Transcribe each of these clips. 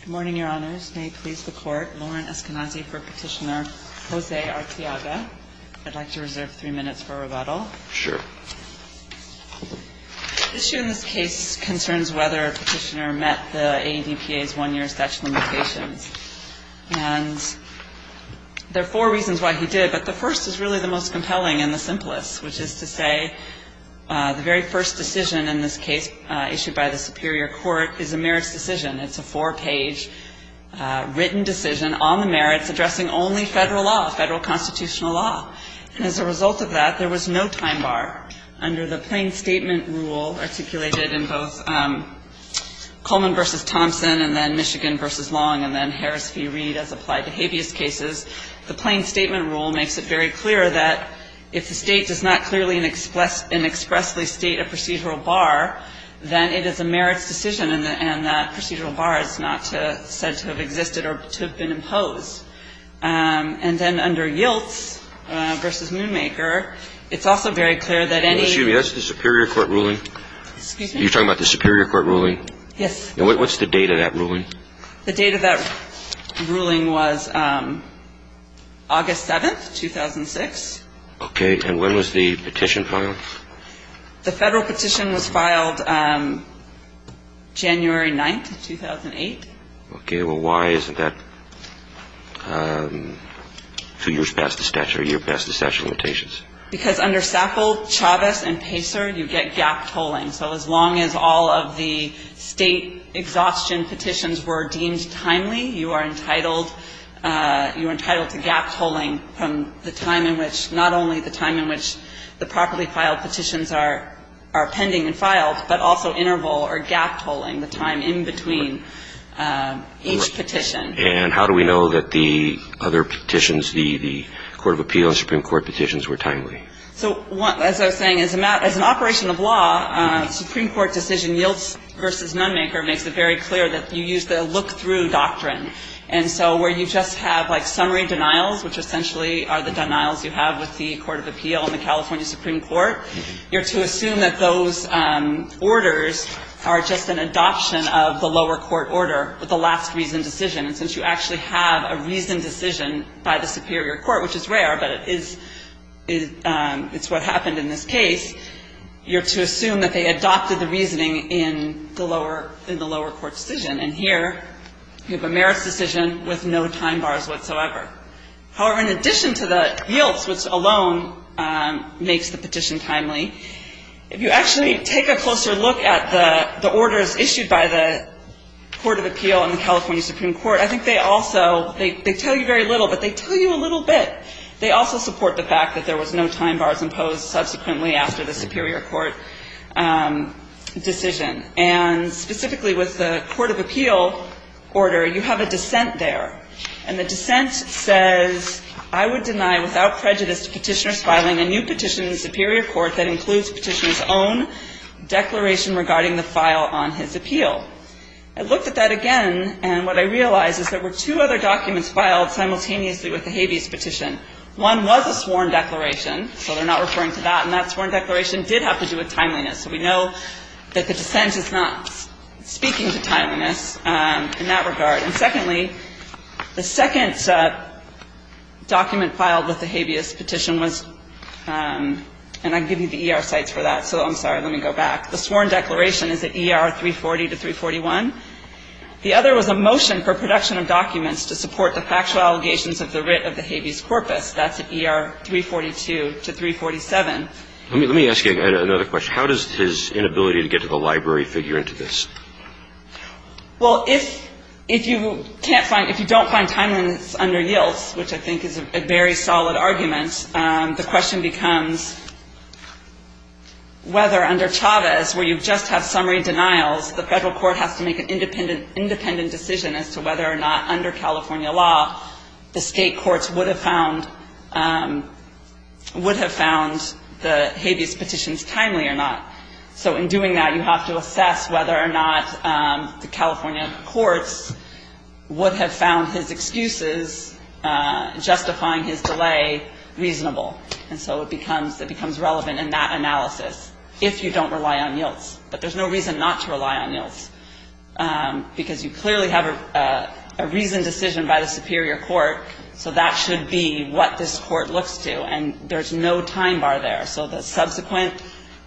Good morning, Your Honors. May it please the Court, Lauren Eskenazi for Petitioner Jose Arteaga. I'd like to reserve three minutes for rebuttal. Sure. The issue in this case concerns whether a petitioner met the AEBPA's one-year statute of limitations. And there are four reasons why he did, but the first is really the most compelling and the simplest, which is to say, the very first decision in this case issued by the Superior Court is a merits decision. It's a four-page written decision on the merits addressing only federal law, federal constitutional law. And as a result of that, there was no time bar. Under the plain statement rule articulated in both Coleman v. Thompson and then Michigan v. Long and then Harris v. Reed as applied to habeas cases, the plain statement rule makes it very clear that if the State does not clearly and expressly state a procedural bar, then it is a merits decision and that procedural bar is not said to have existed or to have been imposed. And then under Yilts v. Moonmaker, it's also very clear that any — Excuse me. That's the Superior Court ruling? Excuse me? You're talking about the Superior Court ruling? Yes. What's the date of that ruling? The date of that ruling was August 7th, 2006. Okay. And when was the petition filed? The federal petition was filed January 9th, 2008. Okay. Well, why isn't that two years past the statute or a year past the statute of limitations? Because under Sackle, Chavez and Pacer, you get gap tolling. So as long as all of the State exhaustion petitions were deemed timely, you are entitled to gap tolling from the time in which — not only the time in which the properly filed petitions are pending and filed, but also interval or gap tolling, the time in between each petition. And how do we know that the other petitions, the Court of Appeal and Supreme Court petitions, were timely? So as I was saying, as an operation of law, Supreme Court decision Yilts v. Moonmaker makes it very clear that you use the look-through doctrine. And so where you just have, like, summary denials, which essentially are the denials you have with the Court of Appeal and the California Supreme Court, you're to assume that those orders are just an adoption of the lower court order, the last reasoned decision. And since you actually have a reasoned decision by the superior court, which is rare, but it is — it's what happened in this case, you're to assume that they adopted the reasoning in the lower court decision. And here you have a merits decision with no time bars whatsoever. However, in addition to the Yilts, which alone makes the petition timely, if you actually take a closer look at the orders issued by the Court of Appeal and the California Supreme Court, I think they also — they tell you very little, but they tell you a little bit. They also support the fact that there was no time bars imposed subsequently after the superior court decision. And specifically with the Court of Appeal order, you have a dissent there. And the dissent says, I would deny without prejudice to Petitioners filing a new petition in the superior court that includes Petitioner's own declaration regarding the file on his appeal. I looked at that again, and what I realized is there were two other documents filed simultaneously with the habeas petition. One was a sworn declaration, so they're not referring to that, and that sworn declaration did have to do with timeliness. So we know that the dissent is not speaking to timeliness in that regard. And secondly, the second document filed with the habeas petition was — and I can give you the ER sites for that, so I'm sorry. Let me go back. The sworn declaration is at ER 340 to 341. The other was a motion for production of documents to support the factual allegations of the writ of the habeas corpus. That's at ER 342 to 347. Let me ask you another question. How does his inability to get to the library figure into this? Well, if you can't find — if you don't find timeliness under yields, which I think is a very solid argument, the question becomes whether under Chavez, where you just have summary denials, the federal court has to make an independent decision as to whether or not under California law the state courts would have found — would have found the habeas petitions timely or not. So in doing that, you have to assess whether or not the California courts would have found his excuses justifying his delay reasonable. And so it becomes — it becomes relevant in that analysis if you don't rely on yields. But there's no reason not to rely on yields because you clearly have a reasoned decision by the superior court, so that should be what this court looks to. And there's no time bar there. So the subsequent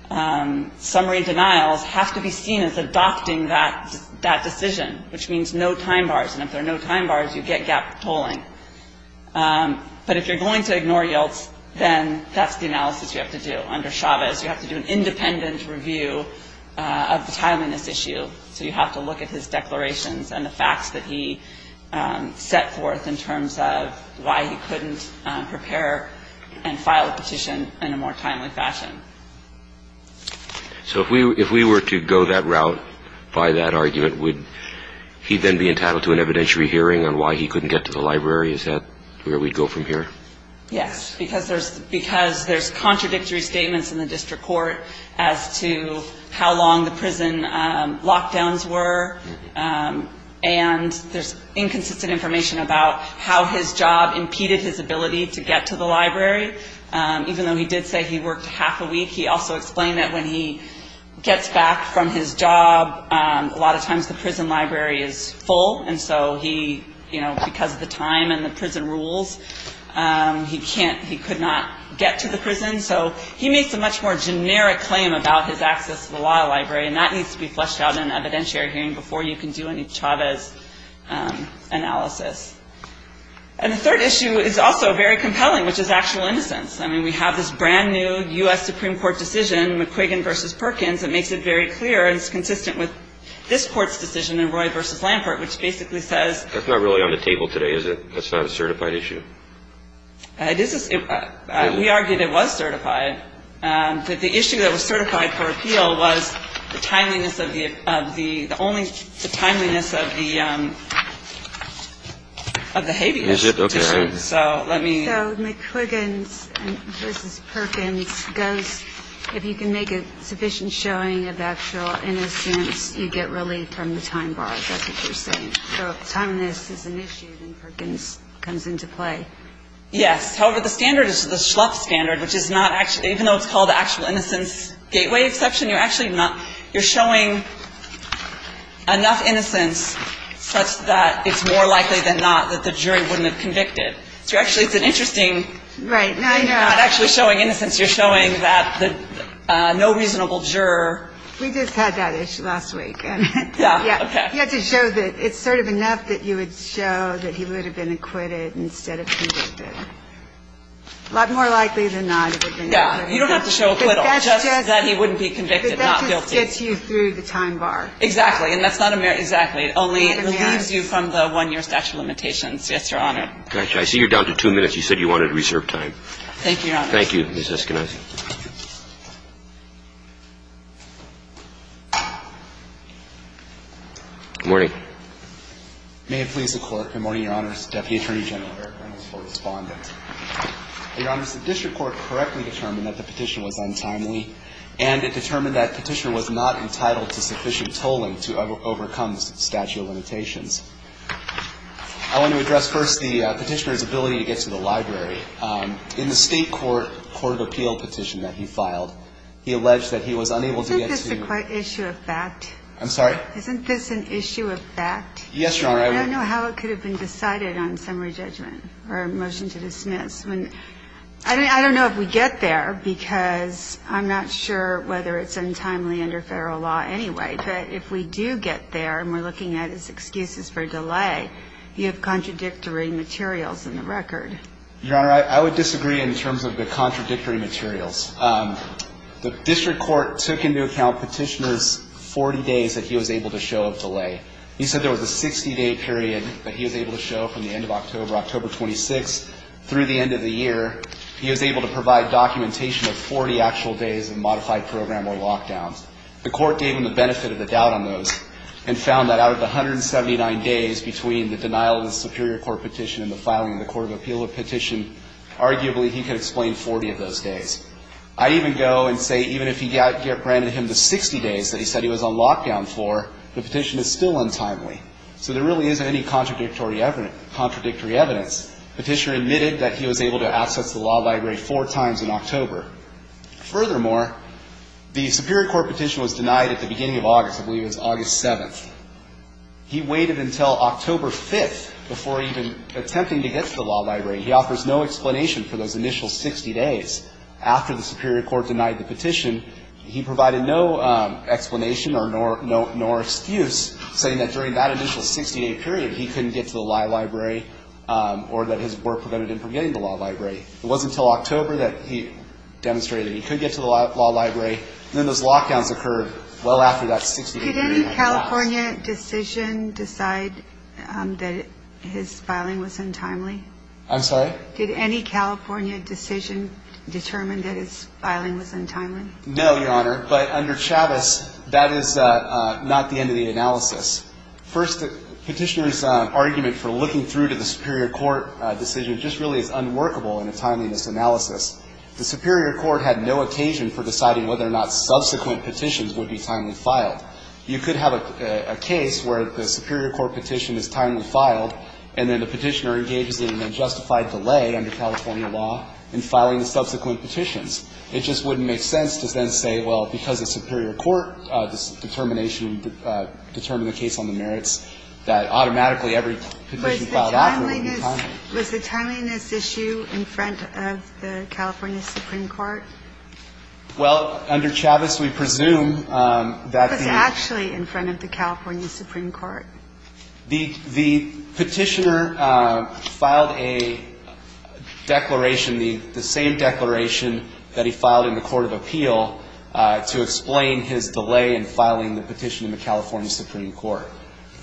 summary denials have to be seen as adopting that — that decision, which means no time bars. And if there are no time bars, you get gap polling. But if you're going to ignore yields, then that's the analysis you have to do under Chavez. You have to do an independent review of the timeliness issue. So you have to look at his declarations and the facts that he set forth in terms of why he couldn't prepare and file a petition in a more timely fashion. So if we — if we were to go that route by that argument, would he then be entitled to an evidentiary hearing on why he couldn't get to the library? Is that where we'd go from here? Yes. Because there's — because there's contradictory statements in the district court as to how long the prison lockdowns And there's inconsistent information about how his job impeded his ability to get to the library. Even though he did say he worked half a week, he also explained that when he gets back from his job, a lot of times the prison library is full. And so he — you know, because of the time and the prison rules, he can't — he could not get to the prison. So he makes a much more generic claim about his access to the law library, and that needs to be fleshed out in an evidentiary hearing before you can do any Chavez analysis. And the third issue is also very compelling, which is actual innocence. I mean, we have this brand-new U.S. Supreme Court decision, McQuiggan v. Perkins, that makes it very clear and is consistent with this court's decision in Roy v. Lampert, which basically says — That's not really on the table today, is it? That's not a certified issue? It is a — we argue that it was certified. But the issue that was certified for appeal was the timeliness of the — the only — the timeliness of the — of the habeas condition. Is it? Okay. So let me — So McQuiggan v. Perkins goes, if you can make a sufficient showing of actual innocence, you get relief from the time bar. Is that what you're saying? So timeliness is an issue, and Perkins comes into play. Yes. However, the standard is the Schlupf standard, which is not actually — even though it's called the actual innocence gateway exception, you're actually not — you're showing enough innocence such that it's more likely than not that the jury wouldn't have convicted. So actually, it's an interesting — Right. Now, I know — You're not actually showing innocence. You're showing that the no reasonable juror — We just had that issue last week. Yeah. Okay. He had to show that it's sort of enough that you would show that he would have been acquitted instead of convicted. A lot more likely than not. Yeah. You don't have to show acquittal, just that he wouldn't be convicted, not guilty. But that just gets you through the time bar. Exactly. And that's not a — exactly. It only relieves you from the one-year statute of limitations. Yes, Your Honor. Okay. I see you're down to two minutes. You said you wanted to reserve time. Thank you, Your Honor. Thank you, Ms. Eskenazi. Good morning. May it please the Court. Good morning, Your Honors. Deputy Attorney General Eric Reynolds for Respondent. Your Honors, the district court correctly determined that the petition was untimely, and it determined that Petitioner was not entitled to sufficient tolling to overcome the statute of limitations. I want to address first the Petitioner's ability to get to the library. He alleged that he was unable to get to — Isn't this an issue of fact? I'm sorry? Isn't this an issue of fact? Yes, Your Honor. I don't know how it could have been decided on summary judgment or a motion to dismiss. I don't know if we get there because I'm not sure whether it's untimely under federal law anyway. But if we do get there and we're looking at his excuses for delay, you have contradictory materials in the record. Your Honor, I would disagree in terms of the contradictory materials. The district court took into account Petitioner's 40 days that he was able to show of delay. He said there was a 60-day period that he was able to show from the end of October, October 26, through the end of the year. He was able to provide documentation of 40 actual days of modified program or lockdowns. The court gave him the benefit of the doubt on those and found that out of the 179 days between the denial of the Superior Court petition and the filing of the Court of Appeal petition, arguably he could explain 40 of those days. I even go and say even if he got granted him the 60 days that he said he was on lockdown for, the petition is still untimely. So there really isn't any contradictory evidence. Petitioner admitted that he was able to access the law library four times in October. Furthermore, the Superior Court petition was denied at the beginning of August. I believe it was August 7th. He waited until October 5th before even attempting to get to the law library. He offers no explanation for those initial 60 days. After the Superior Court denied the petition, he provided no explanation nor excuse, saying that during that initial 60-day period he couldn't get to the law library or that his work prevented him from getting to the law library. It wasn't until October that he demonstrated that he could get to the law library. Then those lockdowns occurred well after that 60-day period. Did any California decision decide that his filing was untimely? I'm sorry? Did any California decision determine that his filing was untimely? No, Your Honor, but under Chavez, that is not the end of the analysis. First, the petitioner's argument for looking through to the Superior Court decision just really is unworkable in a timeliness analysis. The Superior Court had no occasion for deciding whether or not subsequent petitions would be timely filed. You could have a case where the Superior Court petition is timely filed, and then the petitioner engages in an unjustified delay under California law in filing the subsequent petitions. It just wouldn't make sense to then say, well, because the Superior Court determination determined the case on the merits, that automatically every petition filed afterward would be timely. Was the timeliness issue in front of the California Supreme Court? Well, under Chavez, we presume that the – Was it actually in front of the California Supreme Court? The petitioner filed a declaration, the same declaration that he filed in the Court of Appeal to explain his delay in filing the petition in the California Supreme Court.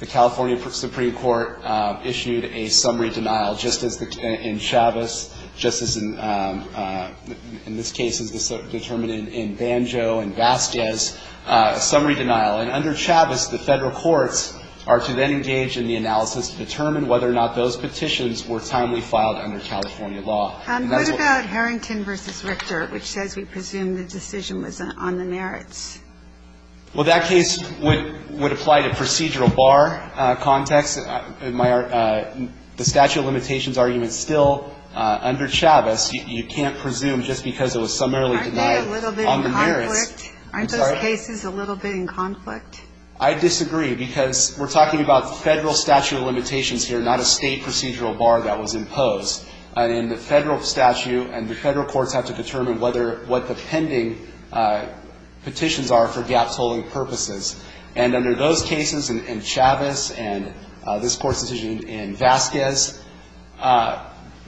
The California Supreme Court issued a summary denial, just as in Chavez, just as in – in this case, as determined in Banjo and Vazquez, a summary denial. And under Chavez, the Federal courts are to then engage in the analysis to determine whether or not those petitions were timely filed under California law. What about Harrington v. Richter, which says we presume the decision was on the merits? Well, that case would apply to procedural bar context. The statute of limitations argument is still under Chavez. You can't presume just because it was summarily denied on the merits. Aren't they a little bit in conflict? I'm sorry? Aren't those cases a little bit in conflict? I disagree because we're talking about Federal statute of limitations here, not a State procedural bar that was imposed. In the Federal statute, and the Federal courts have to determine whether what the purposes. And under those cases in Chavez and this Court's decision in Vazquez,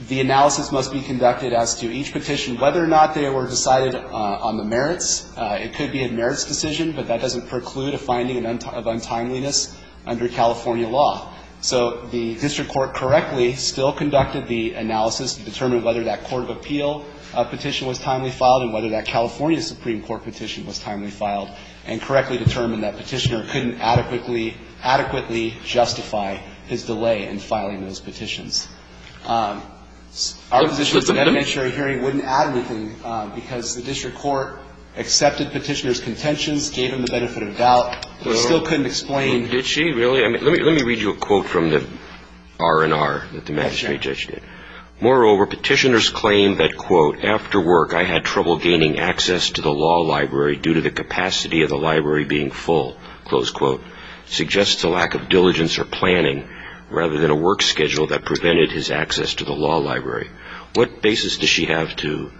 the analysis must be conducted as to each petition, whether or not they were decided on the merits. It could be a merits decision, but that doesn't preclude a finding of untimeliness under California law. So the district court correctly still conducted the analysis to determine whether that court of appeal petition was timely filed and whether that California Supreme Court petition was timely filed, and correctly determined that Petitioner couldn't adequately justify his delay in filing those petitions. Our position is that the magistrate hearing wouldn't add anything because the district court accepted Petitioner's contentions, gave him the benefit of doubt, but still couldn't explain. Did she really? I mean, let me read you a quote from the R&R that the magistrate judge did. Moreover, Petitioner's claim that, quote, after work I had trouble gaining access to the law library due to the capacity of the library being full, close quote, suggests a lack of diligence or planning rather than a work schedule that prevented his access to the law library. What basis does she have to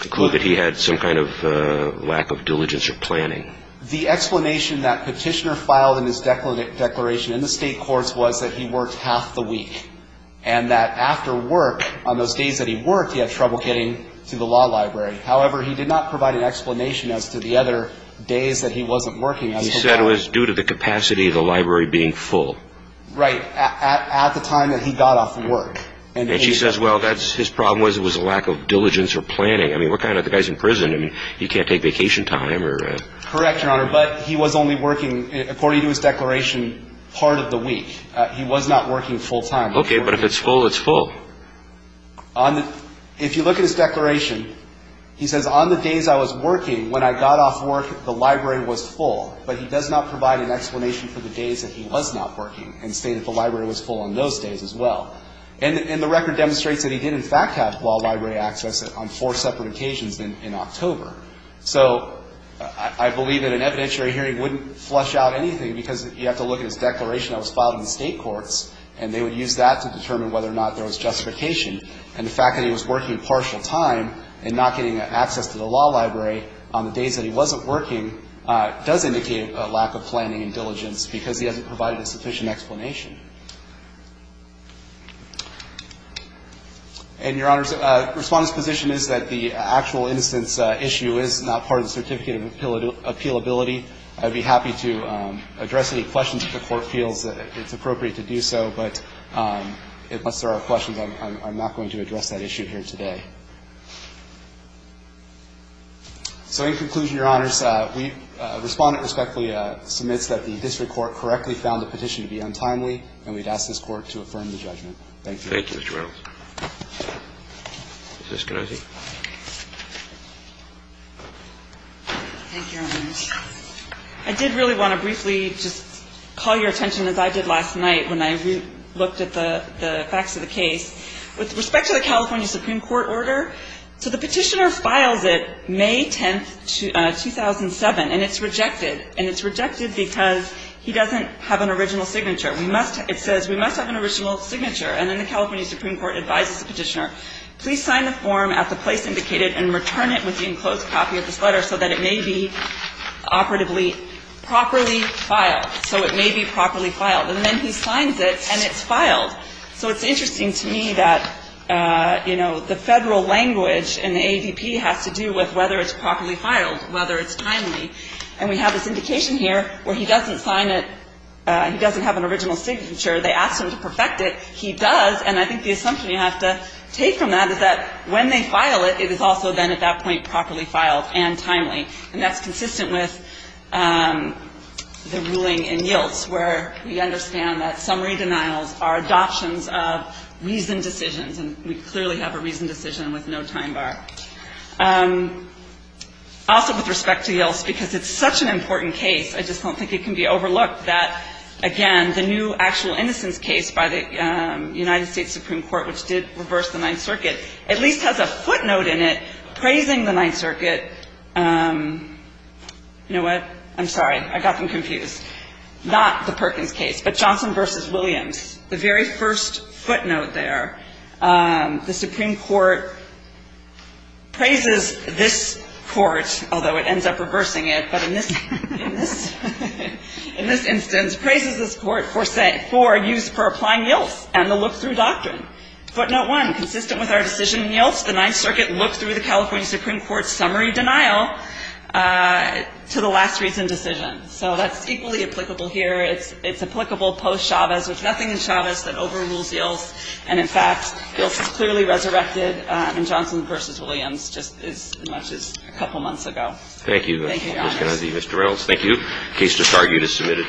conclude that he had some kind of lack of diligence or planning? The explanation that Petitioner filed in his declaration in the state courts was that he had trouble getting to the law library. However, he did not provide an explanation as to the other days that he wasn't working. He said it was due to the capacity of the library being full. Right. At the time that he got off work. And she says, well, his problem was it was a lack of diligence or planning. I mean, we're kind of the guys in prison. I mean, you can't take vacation time. Correct, Your Honor. But he was only working, according to his declaration, part of the week. He was not working full time. Okay. But if it's full, it's full. If you look at his declaration, he says, on the days I was working, when I got off work, the library was full. But he does not provide an explanation for the days that he was not working and say that the library was full on those days as well. And the record demonstrates that he did, in fact, have law library access on four separate occasions in October. So I believe that an evidentiary hearing wouldn't flush out anything because you have to look at his declaration that was filed in the state courts. And they would use that to determine whether or not there was justification. And the fact that he was working partial time and not getting access to the law library on the days that he wasn't working does indicate a lack of planning and diligence because he hasn't provided a sufficient explanation. And, Your Honors, Respondent's position is that the actual innocence issue is not part of the certificate of appealability. I would be happy to address any questions that the Court feels that it's appropriate to do so, but unless there are questions, I'm not going to address that issue here today. So in conclusion, Your Honors, Respondent respectfully submits that the district court correctly found the petition to be untimely, and we'd ask this Court to affirm the judgment. Thank you. Justice Kennedy. Thank you, Your Honors. I did really want to briefly just call your attention, as I did last night when I looked at the facts of the case. With respect to the California Supreme Court order, so the petitioner files it May 10, 2007, and it's rejected. And it's rejected because he doesn't have an original signature. It says, we must have an original signature. And then the California Supreme Court advises the petitioner, please sign the form at the time it's filed. And it's filed. So it's interesting to me that, you know, the Federal language in the ADP has to do with whether it's properly filed, whether it's timely. And we have this indication here where he doesn't sign it, he doesn't have an original signature. They asked him to perfect it. He does. And I think the assumption you have to take from that is that when they file it, it is also then at that point properly filed and timely. And that's consistent with the ruling in Yilts where we understand that summary denials are adoptions of reasoned decisions. And we clearly have a reasoned decision with no time bar. Also with respect to Yilts, because it's such an important case, I just don't think it can be overlooked that, again, the new actual innocence case by the United States Supreme Court, which did reverse the Ninth Circuit, at least has a footnote in it praising the I'm sorry. I got them confused. Not the Perkins case, but Johnson v. Williams. The very first footnote there, the Supreme Court praises this court, although it ends up reversing it. But in this instance, praises this court for use for applying Yilts and the look-through doctrine. Footnote one, consistent with our decision in Yilts, the Ninth Circuit looked through the California Supreme Court's summary denial to the last reasoned decision. So that's equally applicable here. It's applicable post-Chavez. There's nothing in Chavez that overrules Yilts. And, in fact, Yilts is clearly resurrected in Johnson v. Williams just as much as a couple months ago. Thank you, Ms. Kennedy. Mr. Reynolds, thank you. The case just argued is submitted.